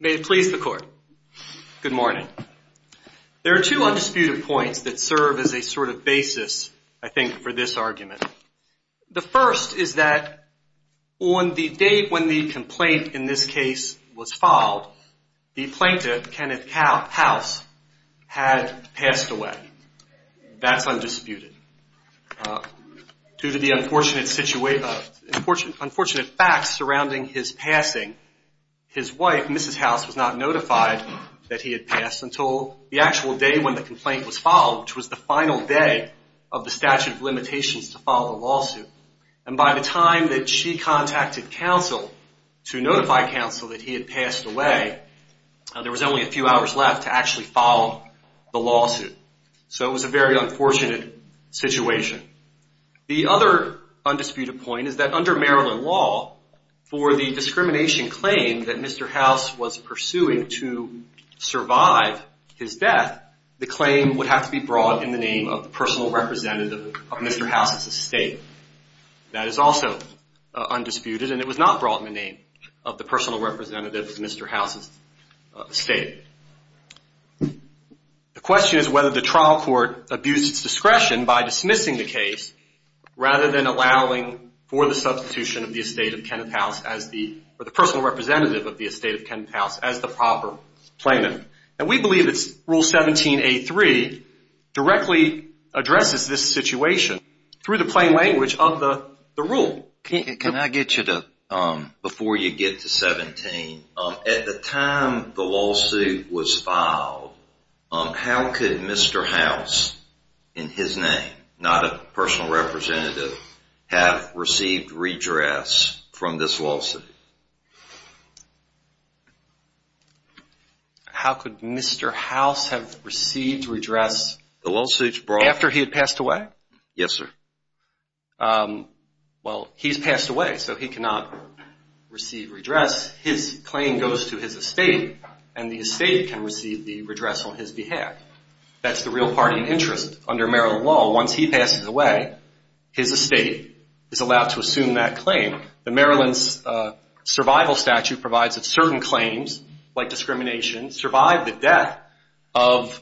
May it please the court. Good morning. There are two undisputed points that serve as a sort of basis, I think, for this argument. The first is that on the date when the complaint in this case was filed, the plaintiff, Kenneth House, had passed away. That's undisputed. Due to the unfortunate facts surrounding his passing, his wife, Mrs. House, was not notified that he had passed until the actual day when the complaint was filed, which was the final day of the statute of limitations to file the lawsuit. And by the time that she contacted counsel to notify counsel that he had passed away, there was only a few hours left to actually file the lawsuit. So it was a very unfortunate situation. The other undisputed point is that under Maryland law, for the discrimination claim that Mr. House was entitled to, that is also undisputed, and it was not brought in the name of the personal representative of Mr. House's estate. The question is whether the trial court abused its discretion by dismissing the case rather than allowing for the substitution of the estate of Kenneth House as the, or the personal representative of the estate of Kenneth House as the proper plaintiff. And we believe that Rule 17A3 directly addresses this situation through the plain language of the rule. Can I get you to, before you get to 17, at the time the lawsuit was filed, how could Mr. House, in his name, not a personal representative, have received redress from this lawsuit? How could Mr. House have received redress after he had passed away? Yes, sir. Well, he's passed away, so he cannot receive redress. His claim goes to his estate, and the estate can receive the redress on his behalf. That's the real party interest under Maryland law. Once he passes away, his estate is allowed to assume that claim. Maryland's survival statute provides that certain claims, like discrimination, survive the death of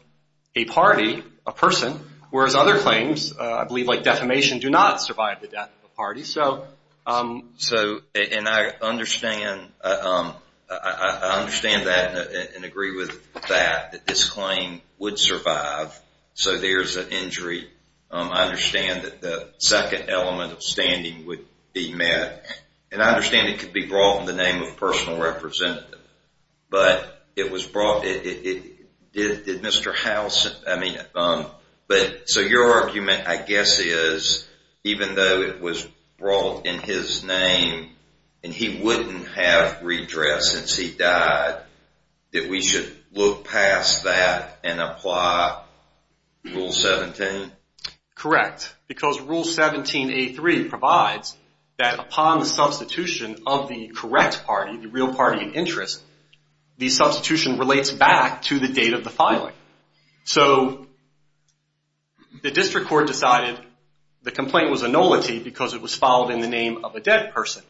a party, a person, whereas other claims, I believe like defamation, do not survive the death of a party. So, and I understand, I understand that and agree with that, that this claim would survive, so there's an injury. I understand that the second element of standing would be met, and I understand it could be brought in the name of personal representative, but it was brought, did Mr. House, I mean, so your argument, I guess, is even though it was brought in his name, and he wouldn't have redress since he died, that we should look past that and apply Rule 17? Correct, because Rule 17A3 provides that upon the substitution of the correct party, the real party interest, the substitution relates back to the date of the filing. So, the district court decided the complaint was a nullity because it was filed in the name of a dead person,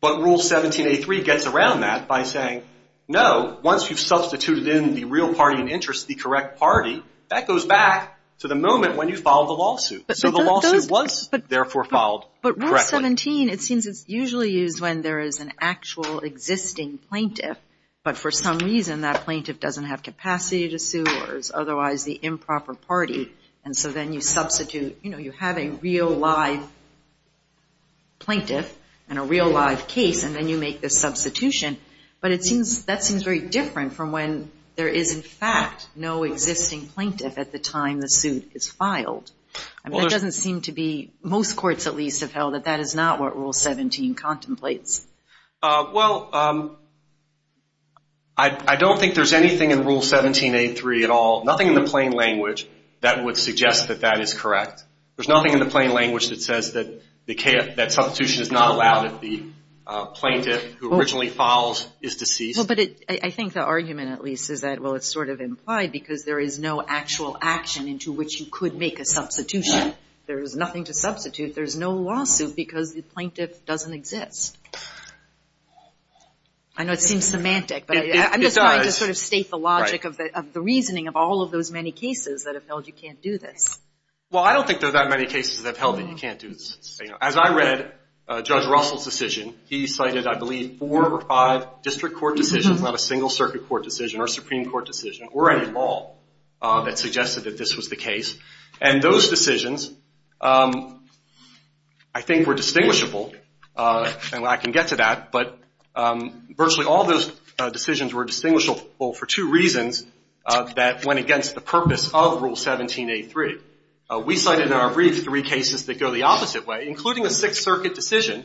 but Rule 17A3 gets around that by saying, no, once you've substituted in the real party interest, the correct party, that goes back to the moment when you filed the lawsuit, so the lawsuit was therefore filed correctly. But Rule 17, it seems it's usually used when there is an actual existing plaintiff, but for some reason that plaintiff doesn't have capacity to sue or is otherwise the improper party, and so then you substitute, you know, you have a real live plaintiff and a real live case, and then you make the substitution, but that seems very different from when there is in fact no existing plaintiff at the time the suit is filed. That doesn't seem to be, most courts at least have held that that is not what Rule 17 contemplates. Well, I don't think there's anything in Rule 17A3 at all, nothing in the plain language that would suggest that that is correct. There's nothing in the plain language that says that substitution is not allowed if the plaintiff who originally filed is deceased. Well, but I think the argument at least is that, well, it's sort of implied because there is no actual action into which you could make a substitution. There is nothing to substitute. There is no lawsuit because the plaintiff doesn't exist. I know it seems semantic, but I'm just trying to sort of state the logic of the reasoning of all of those many cases that have held you can't do this. Well, I don't think there are that many cases that have held that you can't do this. As I read Judge Russell's decision, he cited I believe four or five district court decisions, not a single circuit court decision or a Supreme Court decision or any law that suggested that this was the case. And those decisions I think were distinguishable, and I can get to that, but virtually all those decisions were distinguishable for two reasons that went against the purpose of Rule 17A3. We cited in our brief three cases that go the opposite way, including a Sixth Circuit decision,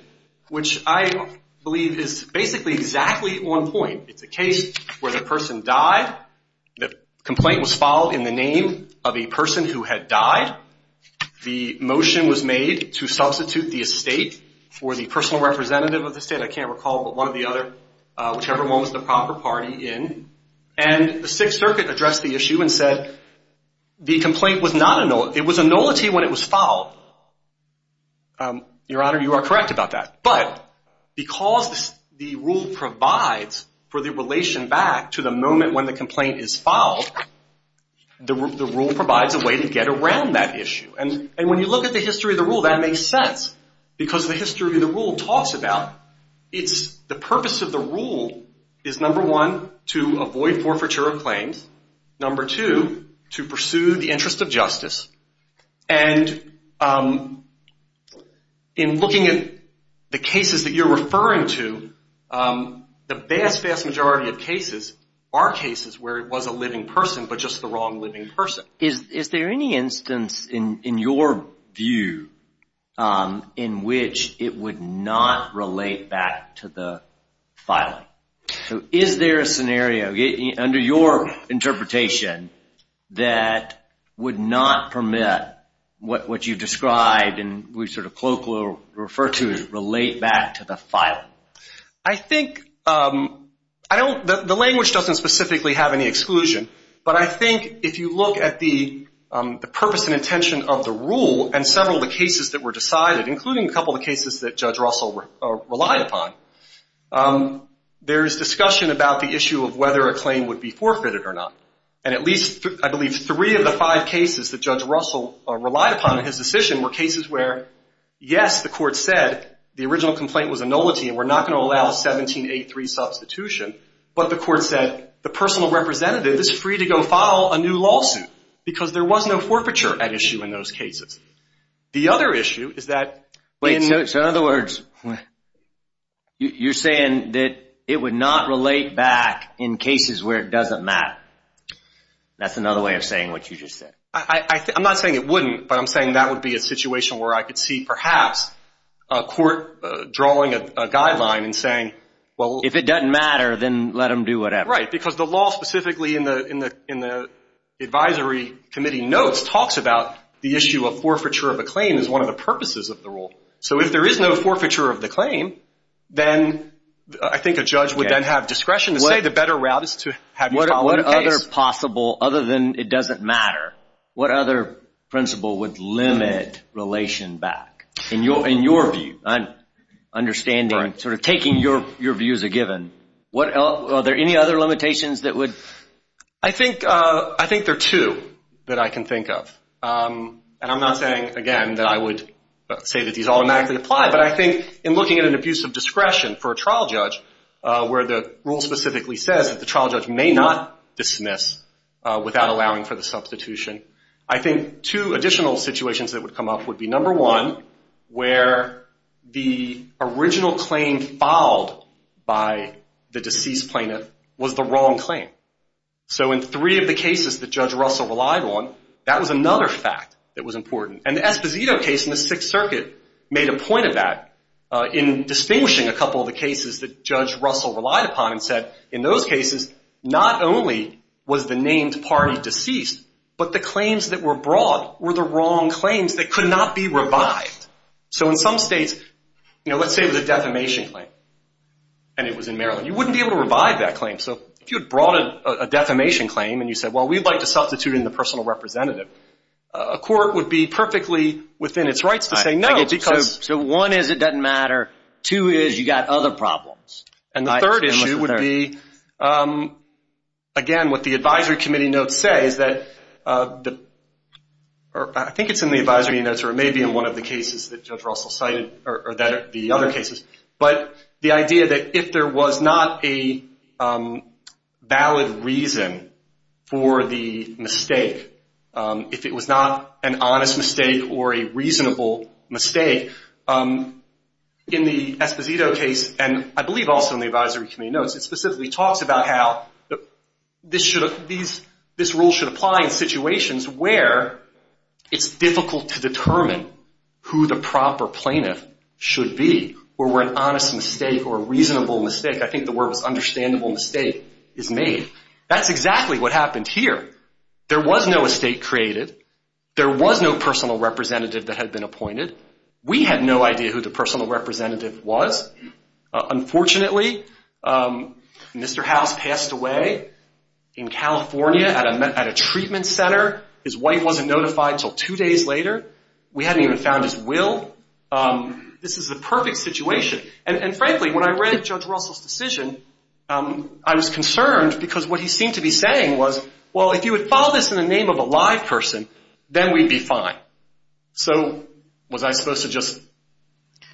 which I believe is basically exactly on point. It's a case where the person died. The complaint was filed in the name of a person who had died. The motion was made to substitute the estate for the personal representative of the estate. I can't recall, but one or the other, whichever one was the proper party in. And the Sixth Circuit addressed the issue and said the complaint was not a nullity. It was a nullity when it was filed. Your Honor, you are correct about that. But because the rule provides for the relation back to the moment when the complaint is filed, the rule provides a way to get around that issue. And when you look at the history of the rule, that makes sense. Because the history of the rule talks about it's the purpose of the rule is, number one, to avoid forfeiture of claims. Number two, to pursue the interest of justice. And in looking at the cases that you're referring to, the vast, vast majority of cases are cases where it was a living person, but just the wrong living person. Is there any instance in your view in which it would not relate back to the filing? Is there a scenario, under your interpretation, that would not permit what you described and we sort of colloquially refer to as relate back to the filing? I think, I don't, the language doesn't specifically have any exclusion. But I think if you look at the purpose and intention of the rule and several of the cases that were decided, including a couple of cases that Judge Russell relied upon, there is discussion about the issue of whether a claim would be forfeited or not. And at least, I believe, three of the five cases that Judge Russell relied upon in his decision were cases where, yes, the court said the original complaint was a nullity and we're not going to allow 1783 substitution. But the court said the personal representative is free to go file a new lawsuit because there was no forfeiture at issue in those cases. The other issue is that... Wait, so in other words, you're saying that it would not relate back in cases where it doesn't matter. That's another way of saying what you just said. I'm not saying it wouldn't, but I'm saying that would be a situation where I could see perhaps a court drawing a guideline and saying... Well, if it doesn't matter, then let them do whatever. Right, because the law specifically in the advisory committee notes talks about the issue of forfeiture of a claim as one of the purposes of the rule. So if there is no forfeiture of the claim, then I think a judge would then have discretion to say the better route is to have you file a case. What other possible, other than it doesn't matter, what other principle would limit relation back? In your view, understanding, sort of taking your view as a given, are there any other limitations that would... I think there are two that I can think of. And I'm not saying, again, that I would say that these automatically apply, but I think in looking at an abuse of discretion for a trial judge where the rule specifically says that the trial judge may not dismiss without allowing for the substitution, I think two additional situations that would come up would be, number one, where the original claim filed by the deceased plaintiff was the wrong claim. So in three of the cases that Judge Russell relied on, that was another fact that was important. And the Esposito case in the Sixth Circuit made a point of that in distinguishing a couple of the cases that Judge Russell relied upon and said, in those cases, not only was the named party deceased, but the claims that were brought were the wrong claims that could not be revived. So in some states, you know, let's say it was a defamation claim and it was in Maryland. You wouldn't be able to revive that claim. So if you had brought a defamation claim and you said, well, we'd like to substitute in the personal representative, a court would be perfectly within its rights to say no because... So one is it doesn't matter. Two is you got other problems. And the third issue would be, again, what the advisory committee notes say is that, or I think it's in the advisory notes, or it may be in one of the cases that Judge Russell cited or the other cases, but the idea that if there was not a valid reason for the mistake, if it was not an honest mistake or a reasonable mistake, in the Esposito case, and I believe also in the advisory committee notes, it specifically talks about how this rule should apply in situations where it's difficult to determine who the proper plaintiff should be, or where an honest mistake or a reasonable mistake, I think the word was understandable mistake, is made. That's exactly what happened here. There was no estate created. There was no personal representative that had been appointed. We had no idea who the personal representative was. Unfortunately, Mr. House passed away in California at a treatment center. His wife wasn't notified until two days later. We hadn't even found his will. This is the perfect situation. And frankly, when I read Judge Russell's decision, I was concerned because what he seemed to be saying was, well, if you would file this in the name of a live person, then we'd be fine. So was I supposed to just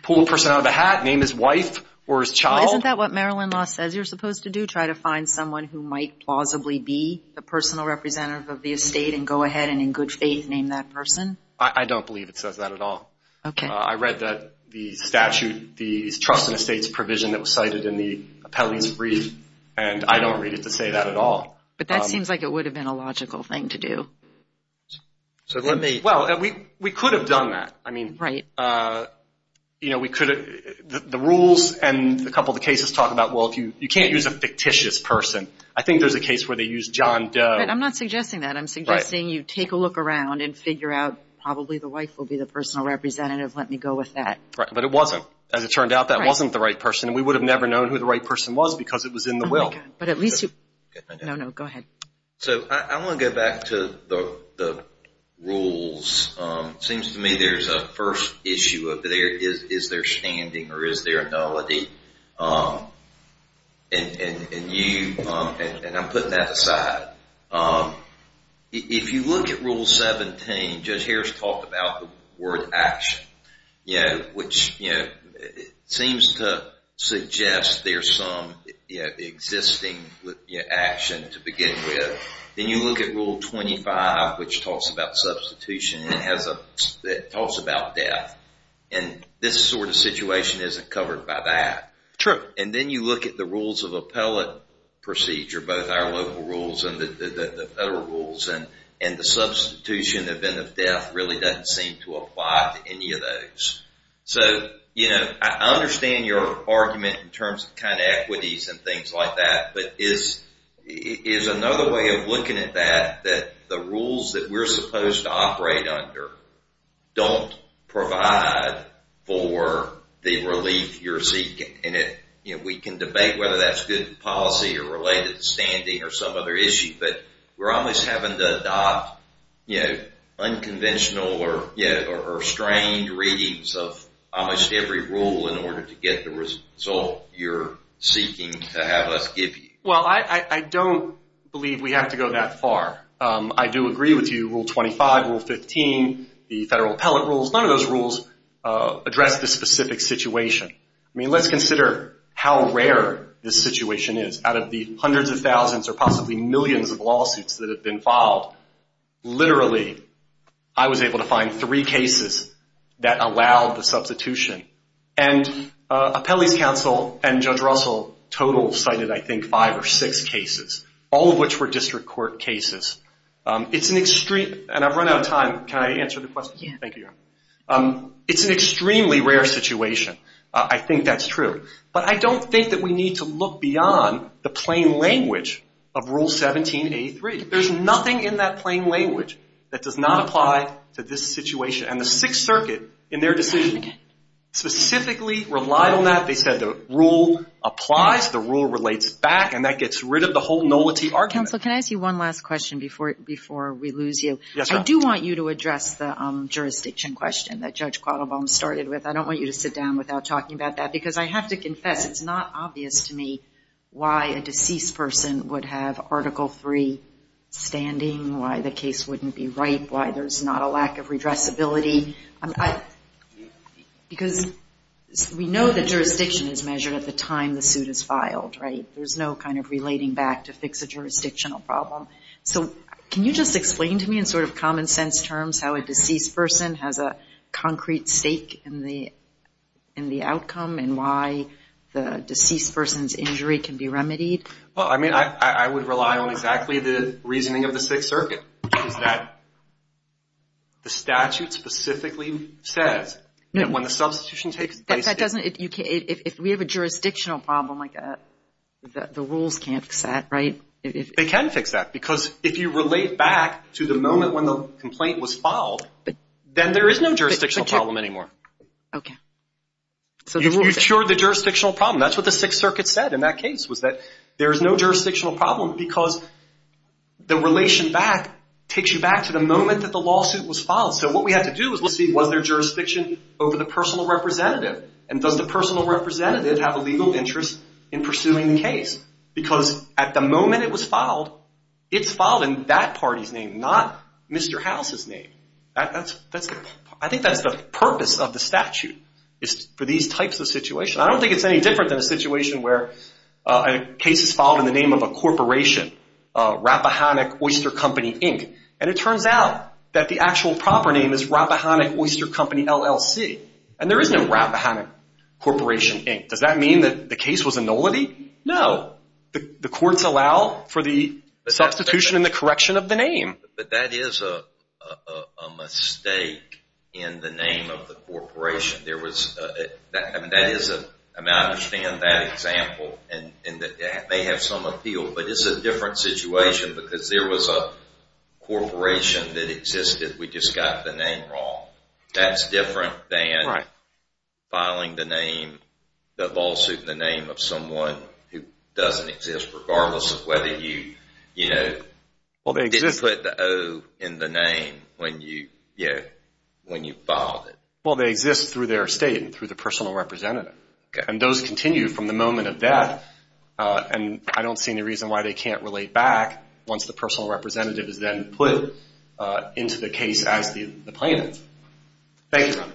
pull a person out of a hat, name his wife or his child? Well, isn't that what Maryland law says you're supposed to do, try to find someone who might plausibly be the personal representative of the estate and go ahead and in good faith name that person? I don't believe it says that at all. Okay. I read that the statute, the trust and estates provision that was cited in the appellee's brief, and I don't read it to say that at all. But that seems like it would have been a logical thing to do. So let me – Well, we could have done that. Right. You know, we could have – the rules and a couple of the cases talk about, well, you can't use a fictitious person. I think there's a case where they use John Doe. I'm not suggesting that. I'm suggesting you take a look around and figure out probably the wife will be the personal representative. Let me go with that. Right, but it wasn't. As it turned out, that wasn't the right person, and we would have never known who the right person was because it was in the will. Oh, my God. But at least you – no, no, go ahead. So I want to go back to the rules. It seems to me there's a first issue of is there standing or is there a nullity? And you – and I'm putting that aside. If you look at Rule 17, Judge Harris talked about the word action, which seems to suggest there's some existing action to begin with. Then you look at Rule 25, which talks about substitution. It has a – it talks about death, and this sort of situation isn't covered by that. True. And then you look at the rules of appellate procedure, both our local rules and the federal rules, and the substitution event of death really doesn't seem to apply to any of those. So, you know, I understand your argument in terms of kind of equities and things like that, but is another way of looking at that that the rules that we're supposed to operate under don't provide for the relief you're seeking? And we can debate whether that's good policy or related to standing or some other issue, but we're almost having to adopt unconventional or strained readings of almost every rule in order to get the result you're seeking to have us give you. Well, I don't believe we have to go that far. I do agree with you. Rule 25, Rule 15, the federal appellate rules, none of those rules address this specific situation. I mean, let's consider how rare this situation is. Out of the hundreds of thousands or possibly millions of lawsuits that have been filed, literally I was able to find three cases that allowed the substitution. And appellees' counsel and Judge Russell total cited, I think, five or six cases, all of which were district court cases. It's an extreme – and I've run out of time. Can I answer the question? Yeah. Thank you. It's an extremely rare situation. I think that's true. But I don't think that we need to look beyond the plain language of Rule 1783. There's nothing in that plain language that does not apply to this situation. And the Sixth Circuit, in their decision, specifically relied on that. They said the rule applies, the rule relates back, and that gets rid of the whole nullity argument. Counsel, can I ask you one last question before we lose you? Yes, ma'am. I do want you to address the jurisdiction question that Judge Quattlebaum started with. I don't want you to sit down without talking about that because I have to confess, it's not obvious to me why a deceased person would have Article III standing, why the case wouldn't be right, why there's not a lack of redressability. Because we know that jurisdiction is measured at the time the suit is filed, right? There's no kind of relating back to fix a jurisdictional problem. So can you just explain to me, in sort of common sense terms, how a deceased person has a concrete stake in the outcome and why the deceased person's injury can be remedied? Well, I mean, I would rely on exactly the reasoning of the Sixth Circuit, which is that the statute specifically says that when the substitution takes place. If we have a jurisdictional problem, the rules can't fix that, right? They can fix that because if you relate back to the moment when the complaint was filed, then there is no jurisdictional problem anymore. Okay. You've cured the jurisdictional problem. That's what the Sixth Circuit said in that case was that there is no jurisdictional problem because the relation back takes you back to the moment that the lawsuit was filed. So what we have to do is we'll see was there jurisdiction over the personal representative and does the personal representative have a legal interest in pursuing the case because at the moment it was filed, it's filed in that party's name, not Mr. House's name. I think that's the purpose of the statute is for these types of situations. I don't think it's any different than a situation where a case is filed in the name of a corporation, Rappahannock Oyster Company, Inc., and it turns out that the actual proper name is Rappahannock Oyster Company, LLC, and there is no Rappahannock Corporation, Inc. Does that mean that the case was a nullity? No. The courts allow for the substitution and the correction of the name. But that is a mistake in the name of the corporation. I understand that example, and it may have some appeal, but it's a different situation because there was a corporation that existed. We just got the name wrong. That's different than filing the name, the lawsuit in the name of someone who doesn't exist, regardless of whether you didn't put the O in the name when you filed it. Well, they exist through their estate and through the personal representative, and those continue from the moment of death, and I don't see any reason why they can't relate back once the personal representative is then put into the case as the plaintiff. Thank you. Thank you.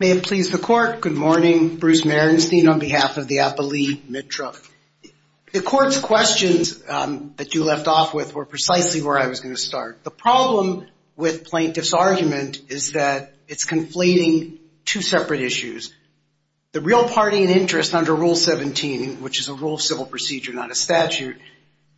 May it please the court. Good morning. I'm Bruce Marenstein on behalf of the Appali Mitra. The court's questions that you left off with were precisely where I was going to start. The problem with plaintiff's argument is that it's conflating two separate issues, the real party and interest under Rule 17, which is a rule of civil procedure, not a statute,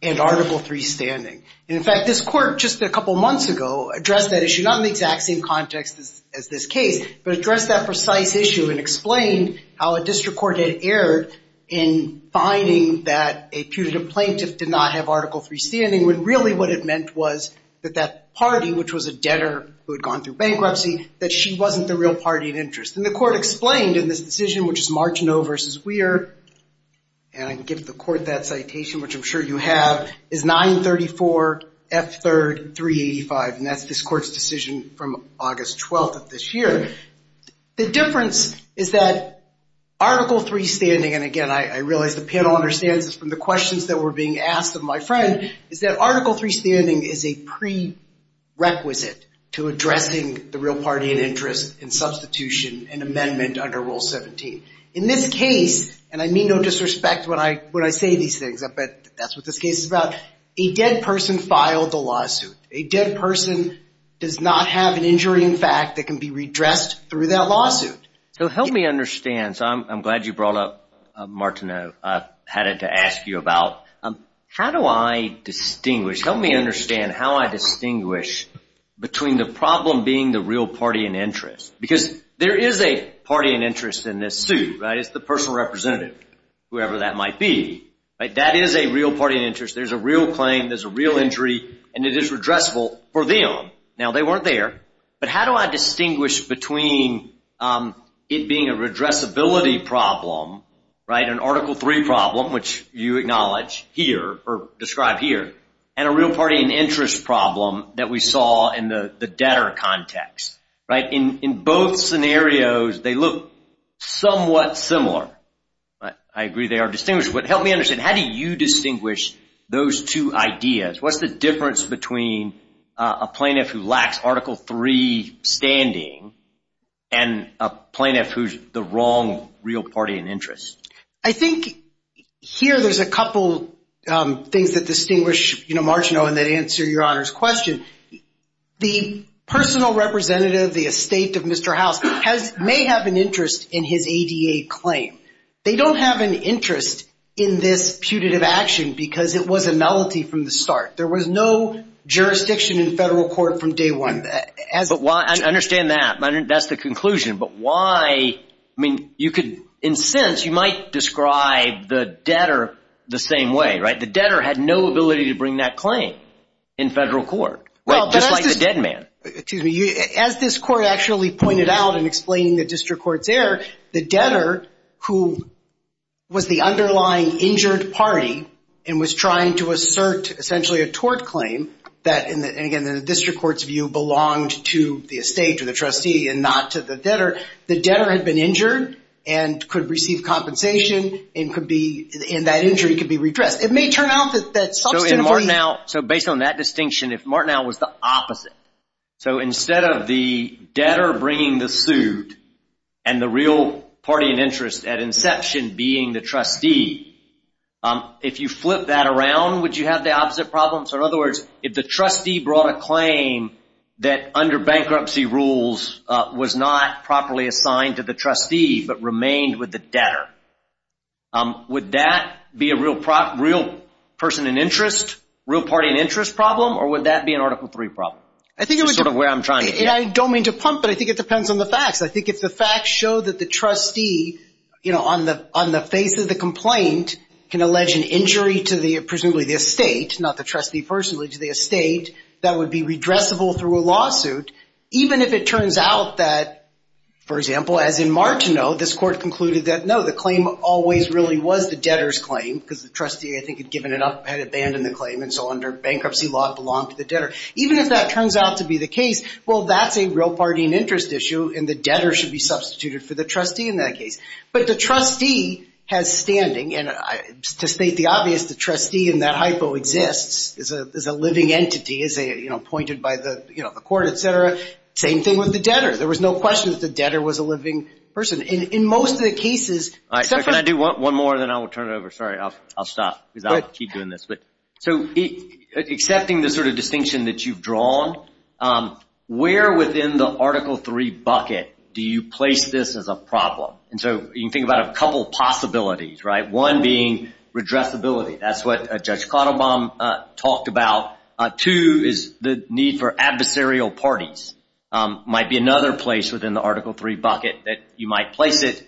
and Article III standing. And, in fact, this court just a couple months ago addressed that issue, not in the exact same context as this case, but addressed that precise issue and explained how a district court had erred in finding that a putative plaintiff did not have Article III standing, when really what it meant was that that party, which was a debtor who had gone through bankruptcy, that she wasn't the real party in interest. And the court explained in this decision, which is Marchenau v. Weir, and I can give the court that citation, which I'm sure you have, is 934F3385, and that's this court's decision from August 12th of this year. The difference is that Article III standing, and, again, I realize the panel understands this from the questions that were being asked of my friend, is that Article III standing is a prerequisite to addressing the real party in interest in substitution and amendment under Rule 17. In this case, and I mean no disrespect when I say these things, but that's what this case is about, a dead person filed the lawsuit. A dead person does not have an injury in fact that can be redressed through that lawsuit. So help me understand, so I'm glad you brought up Marchenau. I've had to ask you about how do I distinguish, help me understand how I distinguish between the problem being the real party in interest. Because there is a party in interest in this suit, right? It's the personal representative, whoever that might be. That is a real party in interest. There's a real claim, there's a real injury, and it is redressable for them. Now, they weren't there, but how do I distinguish between it being a redressability problem, an Article III problem, which you acknowledge here or describe here, and a real party in interest problem that we saw in the debtor context? In both scenarios, they look somewhat similar. I agree they are distinguished, but help me understand, how do you distinguish those two ideas? What's the difference between a plaintiff who lacks Article III standing and a plaintiff who's the wrong real party in interest? I think here there's a couple things that distinguish Marchenau and that answer your Honor's question. The personal representative, the estate of Mr. House, may have an interest in his ADA claim. They don't have an interest in this putative action because it was a malady from the start. There was no jurisdiction in federal court from day one. I understand that. That's the conclusion. But why, I mean, you could, in a sense, you might describe the debtor the same way, right? The debtor had no ability to bring that claim in federal court, just like the dead man. As this court actually pointed out in explaining the district court's error, the debtor who was the underlying injured party and was trying to assert essentially a tort claim, and again, the district court's view belonged to the estate or the trustee and not to the debtor, the debtor had been injured and could receive compensation and that injury could be redressed. It may turn out that that's substantive. So in Marchenau, so based on that distinction, if Marchenau was the opposite, so instead of the debtor bringing the suit and the real party in interest at inception being the trustee, if you flip that around, would you have the opposite problem? So in other words, if the trustee brought a claim that under bankruptcy rules was not properly assigned to the trustee but remained with the debtor, would that be a real person in interest, real party in interest problem, or would that be an Article III problem? That's sort of where I'm trying to go. I don't mean to pump, but I think it depends on the facts. I think if the facts show that the trustee on the face of the complaint can allege an injury to presumably the estate, not the trustee personally, to the estate, that would be redressable through a lawsuit, even if it turns out that, for example, as in Marchenau, this court concluded that, no, the claim always really was the debtor's claim because the trustee, I think, had given it up, had abandoned the claim, and so under bankruptcy law it belonged to the debtor. Even if that turns out to be the case, well, that's a real party in interest issue, and the debtor should be substituted for the trustee in that case. But the trustee has standing, and to state the obvious, the trustee in that hypo exists, is a living entity, is appointed by the court, et cetera. Same thing with the debtor. There was no question that the debtor was a living person. In most of the cases. Can I do one more, then I will turn it over? Sorry, I'll stop because I'll keep doing this. So accepting the sort of distinction that you've drawn, where within the Article III bucket do you place this as a problem? And so you can think about a couple possibilities, right, one being redressability. That's what Judge Kotelbaum talked about. Two is the need for adversarial parties. Might be another place within the Article III bucket that you might place it.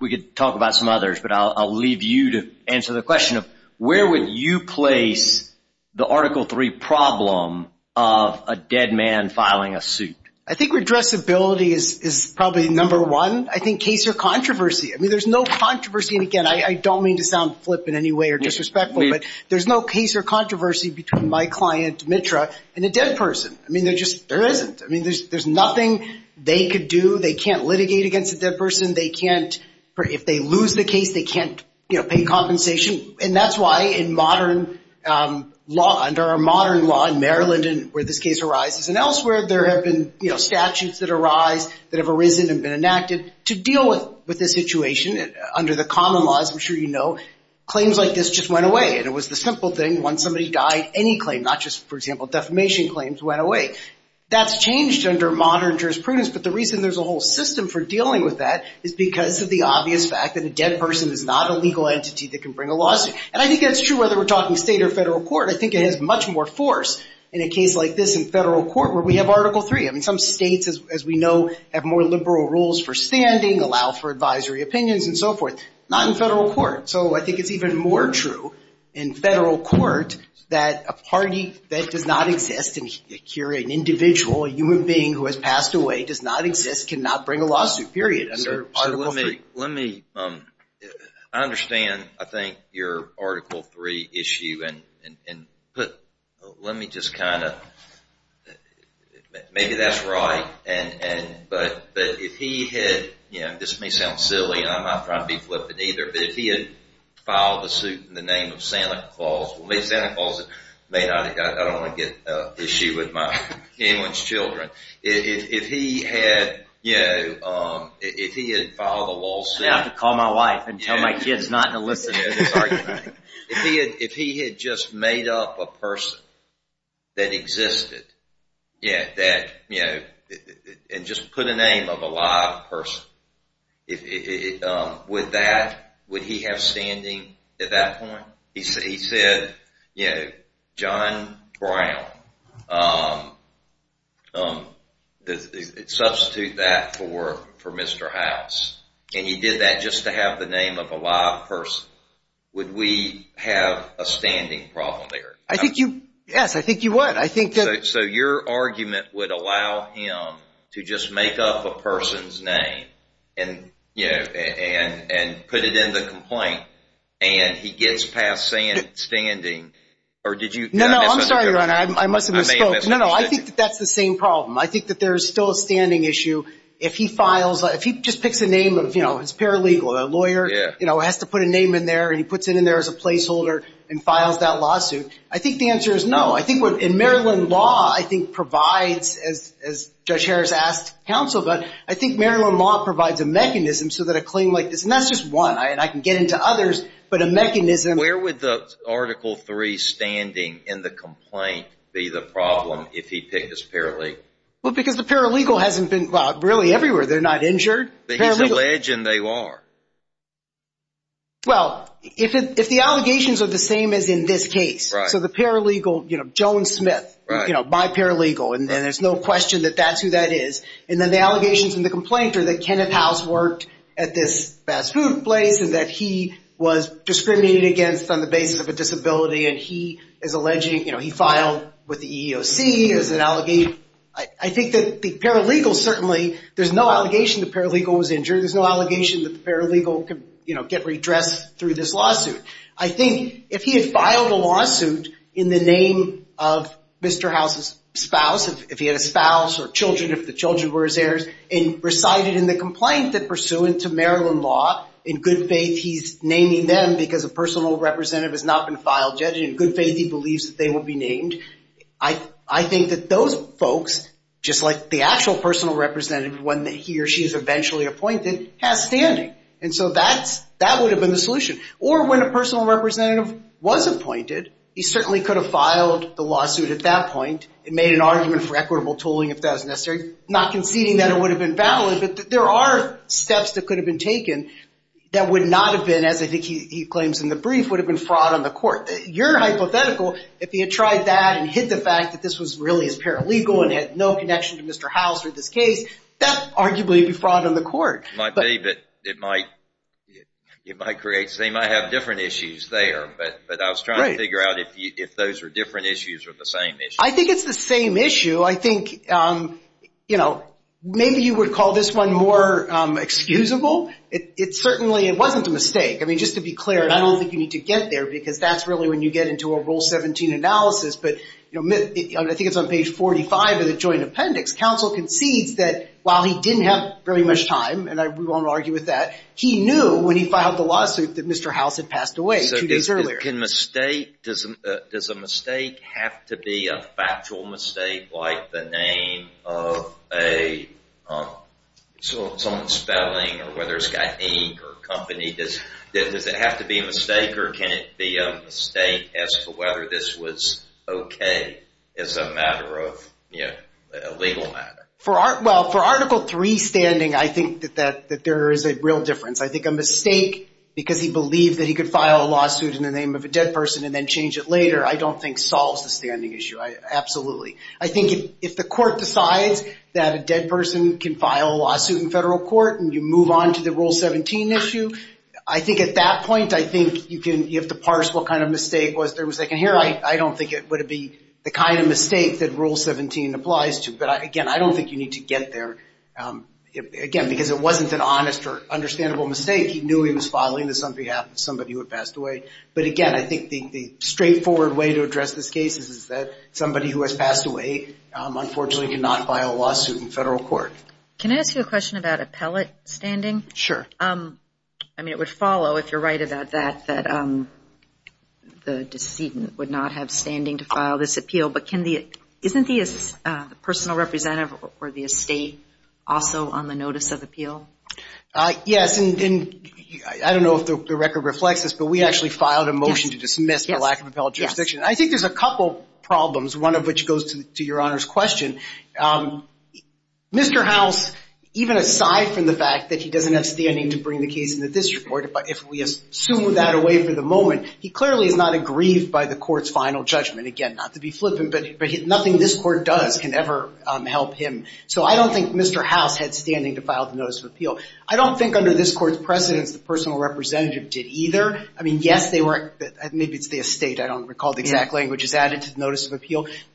We could talk about some others, but I'll leave you to answer the question of where would you place the Article III problem of a dead man filing a suit? I think redressability is probably number one. I think case or controversy. I mean, there's no controversy. And, again, I don't mean to sound flip in any way or disrespectful, but there's no case or controversy between my client, Mitra, and a dead person. I mean, there just isn't. I mean, there's nothing they could do. They can't litigate against a dead person. They can't, if they lose the case, they can't pay compensation. And that's why in modern law, under our modern law in Maryland where this case arises and elsewhere, there have been statutes that arise that have arisen and been enacted to deal with this situation. Under the common laws, I'm sure you know, claims like this just went away. And it was the simple thing. Once somebody died, any claim, not just, for example, defamation claims, went away. That's changed under modern jurisprudence. But the reason there's a whole system for dealing with that is because of the obvious fact that a dead person is not a legal entity that can bring a lawsuit. And I think that's true whether we're talking state or federal court. I think it has much more force in a case like this in federal court where we have Article III. I mean, some states, as we know, have more liberal rules for standing, allow for advisory opinions, and so forth. Not in federal court. So I think it's even more true in federal court that a party that does not exist, an individual, a human being who has passed away, does not exist, cannot bring a lawsuit, period, under Article III. I understand, I think, your Article III issue. And let me just kind of, maybe that's right. But if he had, you know, this may sound silly, and I'm not trying to be flippant either, but if he had filed a suit in the name of Santa Claus, well, maybe Santa Claus, I don't want to get an issue with anyone's children. If he had, you know, if he had filed a lawsuit. I'd have to call my wife and tell my kids not to listen to this argument. If he had just made up a person that existed, and just put a name of a live person, would he have standing at that point? He said, you know, John Brown. Substitute that for Mr. House. And he did that just to have the name of a live person. Would we have a standing problem there? I think you, yes, I think you would. So your argument would allow him to just make up a person's name, and put it in the complaint, and he gets past standing. Or did you? No, no, I'm sorry, Your Honor, I must have misspoke. No, no, I think that that's the same problem. I think that there's still a standing issue. If he files, if he just picks a name, you know, it's paralegal, a lawyer, you know, has to put a name in there, and he puts it in there as a placeholder and files that lawsuit. I think the answer is no. I think what, in Maryland law, I think provides, as Judge Harris asked counsel, but I think Maryland law provides a mechanism so that a claim like this, and that's just one, and I can get into others, but a mechanism. Where would the Article III standing in the complaint be the problem if he picked as paralegal? Well, because the paralegal hasn't been, well, really everywhere. They're not injured. But he's a legend, they are. Well, if the allegations are the same as in this case, so the paralegal, you know, Joan Smith, you know, by paralegal, and there's no question that that's who that is. And then the allegations in the complaint are that Kenneth House worked at this fast food place and that he was discriminated against on the basis of a disability, and he is alleging, you know, he filed with the EEOC as an allegation. I think that the paralegal certainly, there's no allegation the paralegal was injured. There's no allegation that the paralegal could, you know, get redressed through this lawsuit. I think if he had filed a lawsuit in the name of Mr. House's spouse, if he had a spouse or children, if the children were his heirs, and recited in the complaint that pursuant to Maryland law, in good faith, he's naming them because a personal representative has not been filed. Judging in good faith, he believes that they will be named. I think that those folks, just like the actual personal representative, when he or she is eventually appointed, has standing. And so that would have been the solution. Or when a personal representative was appointed, he certainly could have filed the lawsuit at that point and made an argument for equitable tooling if that was necessary, not conceding that it would have been valid, but there are steps that could have been taken that would not have been, as I think he claims in the brief, would have been fraud on the court. Your hypothetical, if he had tried that and hid the fact that this was really his paralegal and had no connection to Mr. House or this case, that would arguably be fraud on the court. It might be, but it might create, they might have different issues there. But I was trying to figure out if those were different issues or the same issues. I think it's the same issue. I think, you know, maybe you would call this one more excusable. It certainly, it wasn't a mistake. I mean, just to be clear, and I don't think you need to get there, because that's really when you get into a Rule 17 analysis. But, you know, I think it's on page 45 of the joint appendix. Counsel concedes that while he didn't have very much time, and I won't argue with that, he knew when he filed the lawsuit that Mr. House had passed away two days earlier. So does a mistake have to be a factual mistake like the name of someone spelling or whether it's got ink or company, does it have to be a mistake? Or can it be a mistake as to whether this was okay as a matter of, you know, a legal matter? Well, for Article III standing, I think that there is a real difference. I think a mistake because he believed that he could file a lawsuit in the name of a dead person and then change it later, I don't think solves the standing issue, absolutely. I think if the court decides that a dead person can file a lawsuit in federal court and you move on to the Rule 17 issue, I think at that point I think you have to parse what kind of mistake was there. And here I don't think it would be the kind of mistake that Rule 17 applies to. But, again, I don't think you need to get there, again, because it wasn't an honest or understandable mistake. He knew he was filing this on behalf of somebody who had passed away. But, again, I think the straightforward way to address this case is that somebody who has passed away, unfortunately, did not file a lawsuit in federal court. Can I ask you a question about appellate standing? Sure. I mean, it would follow, if you're right about that, that the decedent would not have standing to file this appeal. But isn't the personal representative or the estate also on the notice of appeal? Yes, and I don't know if the record reflects this, but we actually filed a motion to dismiss the lack of appellate jurisdiction. I think there's a couple problems, one of which goes to Your Honor's question. Mr. House, even aside from the fact that he doesn't have standing to bring the case into this report, if we assume that away for the moment, he clearly is not aggrieved by the court's final judgment. Again, not to be flippant, but nothing this court does can ever help him. So I don't think Mr. House had standing to file the notice of appeal. I don't think under this court's precedence the personal representative did either. I mean, yes, maybe it's the estate.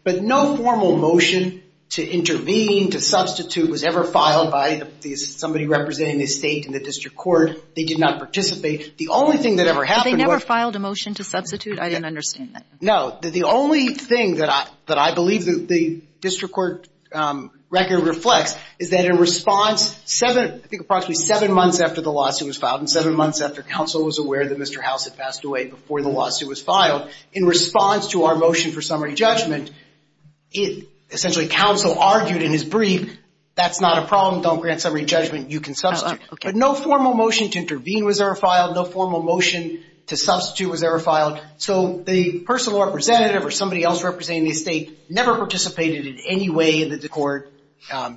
But no formal motion to intervene, to substitute, was ever filed by somebody representing the estate in the district court. They did not participate. The only thing that ever happened was they never filed a motion to substitute? I didn't understand that. No. The only thing that I believe the district court record reflects is that in response, I think approximately seven months after the lawsuit was filed and seven months after counsel was aware that Mr. House had passed away before the lawsuit was filed, in response to our motion for summary judgment, essentially counsel argued in his brief, that's not a problem, don't grant summary judgment, you can substitute. But no formal motion to intervene was ever filed. No formal motion to substitute was ever filed. So the personal representative or somebody else representing the estate never participated in any way in the court,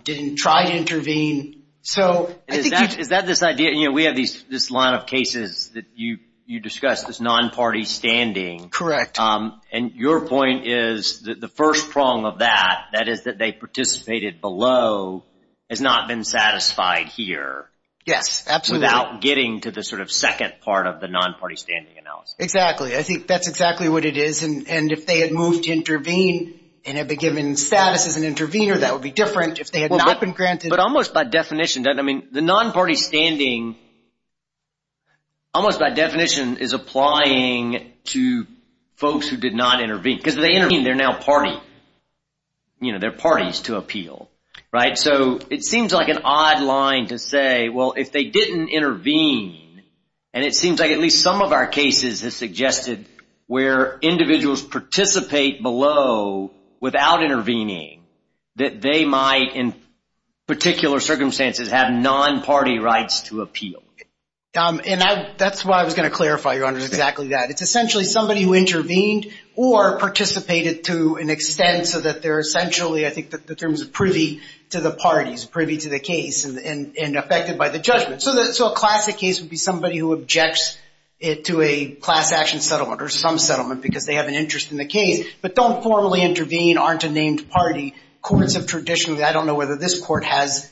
didn't try to intervene. Is that this idea? We have this line of cases that you discussed, this non-party standing. Correct. And your point is that the first prong of that, that is that they participated below, has not been satisfied here. Yes, absolutely. Without getting to the sort of second part of the non-party standing analysis. Exactly. I think that's exactly what it is. And if they had moved to intervene and had been given status as an intervener, that would be different. If they had not been granted. But almost by definition, I mean, the non-party standing, almost by definition is applying to folks who did not intervene. Because if they intervene, they're now party. You know, they're parties to appeal, right? So it seems like an odd line to say, well, if they didn't intervene, and it seems like at least some of our cases have suggested where individuals participate below without intervening, that they might in particular circumstances have non-party rights to appeal. And that's why I was going to clarify, Your Honor, exactly that. It's essentially somebody who intervened or participated to an extent so that they're essentially, I think, in terms of privy to the parties, privy to the case and affected by the judgment. So a classic case would be somebody who objects to a class action settlement or some settlement because they have an interest in the case, but don't formally intervene, aren't a named party. Courts have traditionally, I don't know whether this court has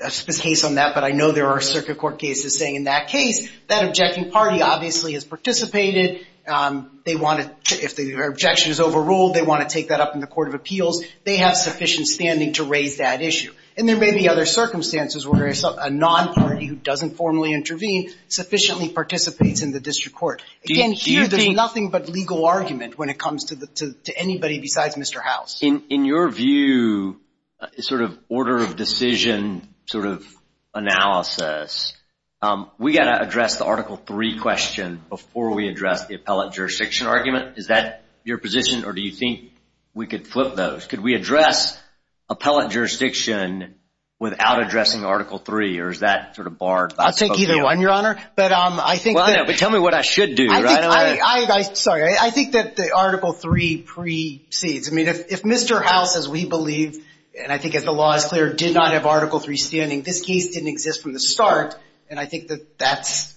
a case on that, but I know there are circuit court cases saying in that case, that objecting party obviously has participated. If their objection is overruled, they want to take that up in the court of appeals. They have sufficient standing to raise that issue. And there may be other circumstances where a non-party who doesn't formally intervene sufficiently participates in the district court. Again, here there's nothing but legal argument when it comes to anybody besides Mr. House. In your view, sort of order of decision sort of analysis, we've got to address the Article III question before we address the appellate jurisdiction argument. Is that your position or do you think we could flip those? Could we address appellate jurisdiction without addressing Article III or is that sort of barred? I'll take either one, Your Honor. But tell me what I should do. Sorry. I think that the Article III precedes. I mean, if Mr. House, as we believe, and I think as the law is clear, did not have Article III standing, this case didn't exist from the start, and I think that that's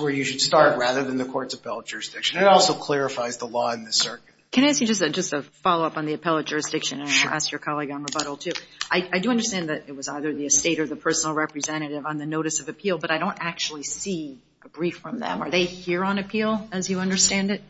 where you should start rather than the court's appellate jurisdiction. It also clarifies the law in this circuit. Can I ask you just a follow-up on the appellate jurisdiction? And I'll ask your colleague on rebuttal too. I do understand that it was either the estate or the personal representative on the notice of appeal, but I don't actually see a brief from them. Are they here on appeal as you understand it?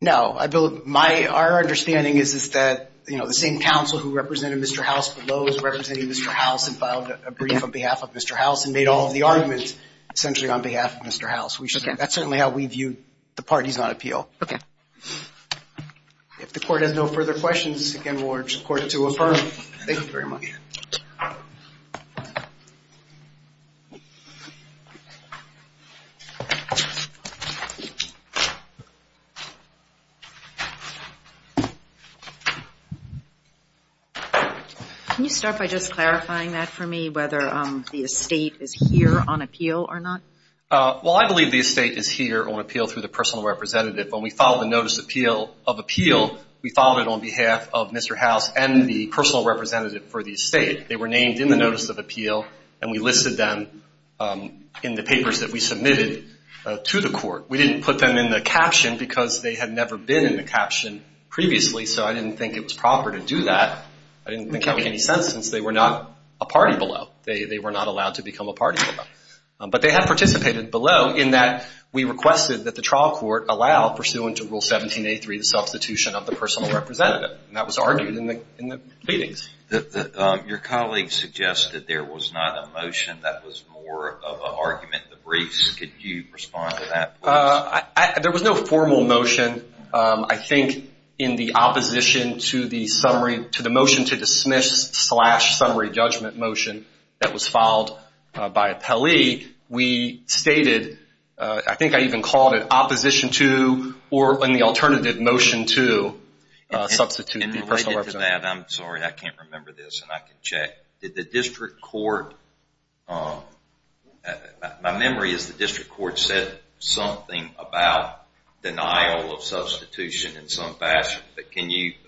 No. Our understanding is that, you know, the same counsel who represented Mr. House below is representing Mr. House and filed a brief on behalf of Mr. House and made all of the arguments essentially on behalf of Mr. House. That's certainly how we view the parties on appeal. Okay. If the court has no further questions, again, we'll urge the court to affirm. Thank you very much. Thank you. Can you start by just clarifying that for me, whether the estate is here on appeal or not? Well, I believe the estate is here on appeal through the personal representative. When we filed the notice of appeal, we filed it on behalf of Mr. House and the personal representative for the estate. They were named in the notice of appeal, and we listed them in the papers that we submitted to the court. We didn't put them in the caption because they had never been in the caption previously, so I didn't think it was proper to do that. I didn't think it would make any sense since they were not a party below. They were not allowed to become a party below. But they have participated below in that we requested that the trial court allow, pursuant to Rule 17A3, the substitution of the personal representative, and that was argued in the pleadings. Your colleague suggested there was not a motion that was more of an argument in the briefs. Could you respond to that? There was no formal motion. I think in the opposition to the motion to dismiss slash summary judgment motion that was filed by appellee, we stated, I think I even called it opposition to, or in the alternative motion to, substitute the personal representative. On that, I'm sorry, I can't remember this, and I can check. Did the district court, my memory is the district court said something about denial of substitution in some fashion, but can you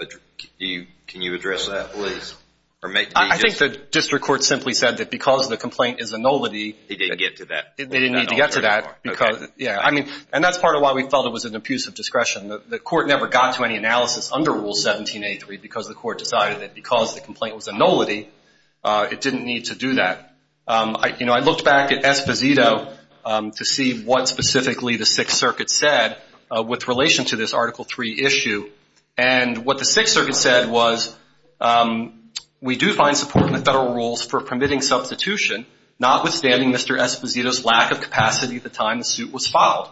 address that, please? I think the district court simply said that because the complaint is a nullity, they didn't need to get to that. And that's part of why we felt it was an abuse of discretion. The court never got to any analysis under Rule 17A3 because the court decided that because the complaint was a nullity, it didn't need to do that. You know, I looked back at Esposito to see what specifically the Sixth Circuit said with relation to this Article III issue, and what the Sixth Circuit said was, we do find support in the federal rules for permitting substitution, notwithstanding Mr. Esposito's lack of capacity at the time the suit was filed.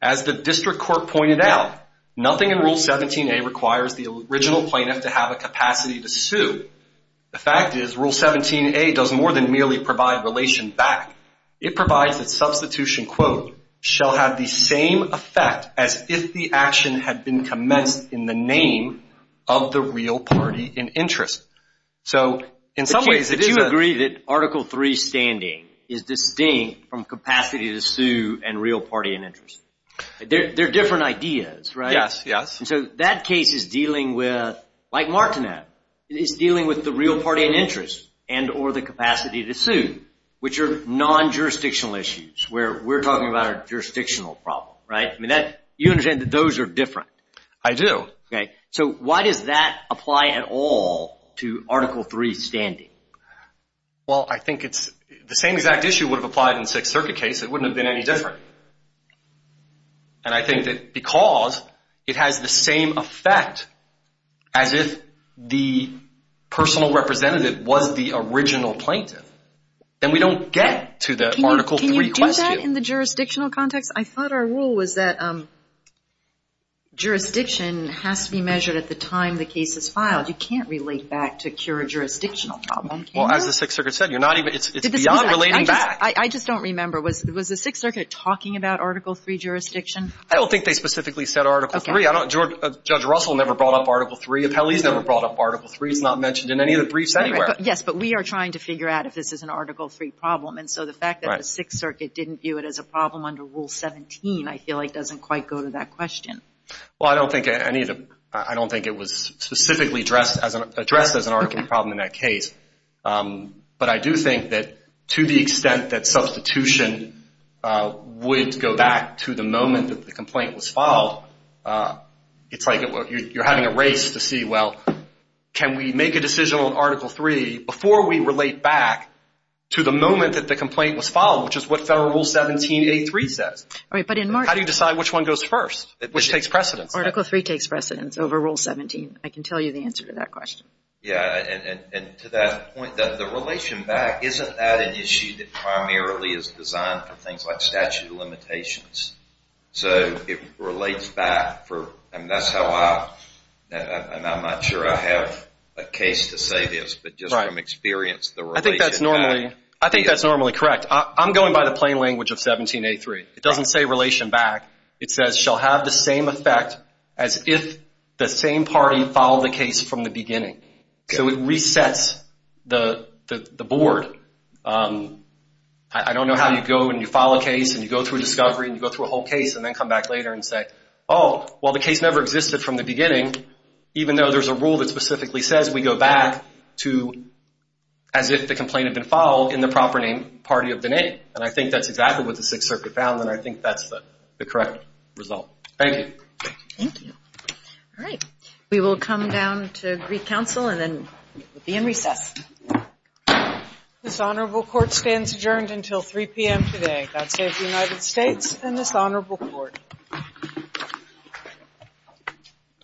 As the district court pointed out, nothing in Rule 17A requires the original plaintiff to have a capacity to sue. The fact is, Rule 17A does more than merely provide relation back. It provides that substitution, quote, shall have the same effect as if the action had been commenced in the name of the real party in interest. So in some ways, it is a... They're different ideas, right? Yes, yes. So that case is dealing with, like Martinette, is dealing with the real party in interest and or the capacity to sue, which are non-jurisdictional issues, where we're talking about a jurisdictional problem, right? You understand that those are different. I do. Okay. So why does that apply at all to Article III standing? Well, I think it's the same exact issue would have applied in the Sixth Circuit case. It wouldn't have been any different. And I think that because it has the same effect as if the personal representative was the original plaintiff, then we don't get to the Article III question. Can you do that in the jurisdictional context? I thought our rule was that jurisdiction has to be measured at the time the case is filed. You can't relate back to cure a jurisdictional problem, can you? Well, as the Sixth Circuit said, it's beyond relating back. I just don't remember. Was the Sixth Circuit talking about Article III jurisdiction? I don't think they specifically said Article III. Judge Russell never brought up Article III. Appellee's never brought up Article III. It's not mentioned in any of the briefs anywhere. Yes, but we are trying to figure out if this is an Article III problem. And so the fact that the Sixth Circuit didn't view it as a problem under Rule 17, I feel like doesn't quite go to that question. Well, I don't think it was specifically addressed as an Article III problem in that case. But I do think that to the extent that substitution would go back to the moment that the complaint was filed, it's like you're having a race to see, well, can we make a decision on Article III before we relate back to the moment that the complaint was filed, which is what Federal Rule 17A3 says. All right, but in March. How do you decide which one goes first? Which takes precedence? Article III takes precedence over Rule 17. I can tell you the answer to that question. Yeah, and to that point, the relation back, isn't that an issue that primarily is designed for things like statute of limitations? So it relates back for, and that's how I, and I'm not sure I have a case to say this, but just from experience, the relation back. I think that's normally correct. I'm going by the plain language of 17A3. It doesn't say relation back. It says shall have the same effect as if the same party filed the case from the beginning. So it resets the board. I don't know how you go and you file a case and you go through a discovery and you go through a whole case and then come back later and say, oh, well the case never existed from the beginning, even though there's a rule that specifically says we go back to as if the complaint had been filed in the proper name, party of the name. And I think that's exactly what the Sixth Circuit found and I think that's the correct result. Thank you. Thank you. All right. We will come down to Greek Council and then we'll be in recess. This honorable court stands adjourned until 3 p.m. today. God save the United States and this honorable court.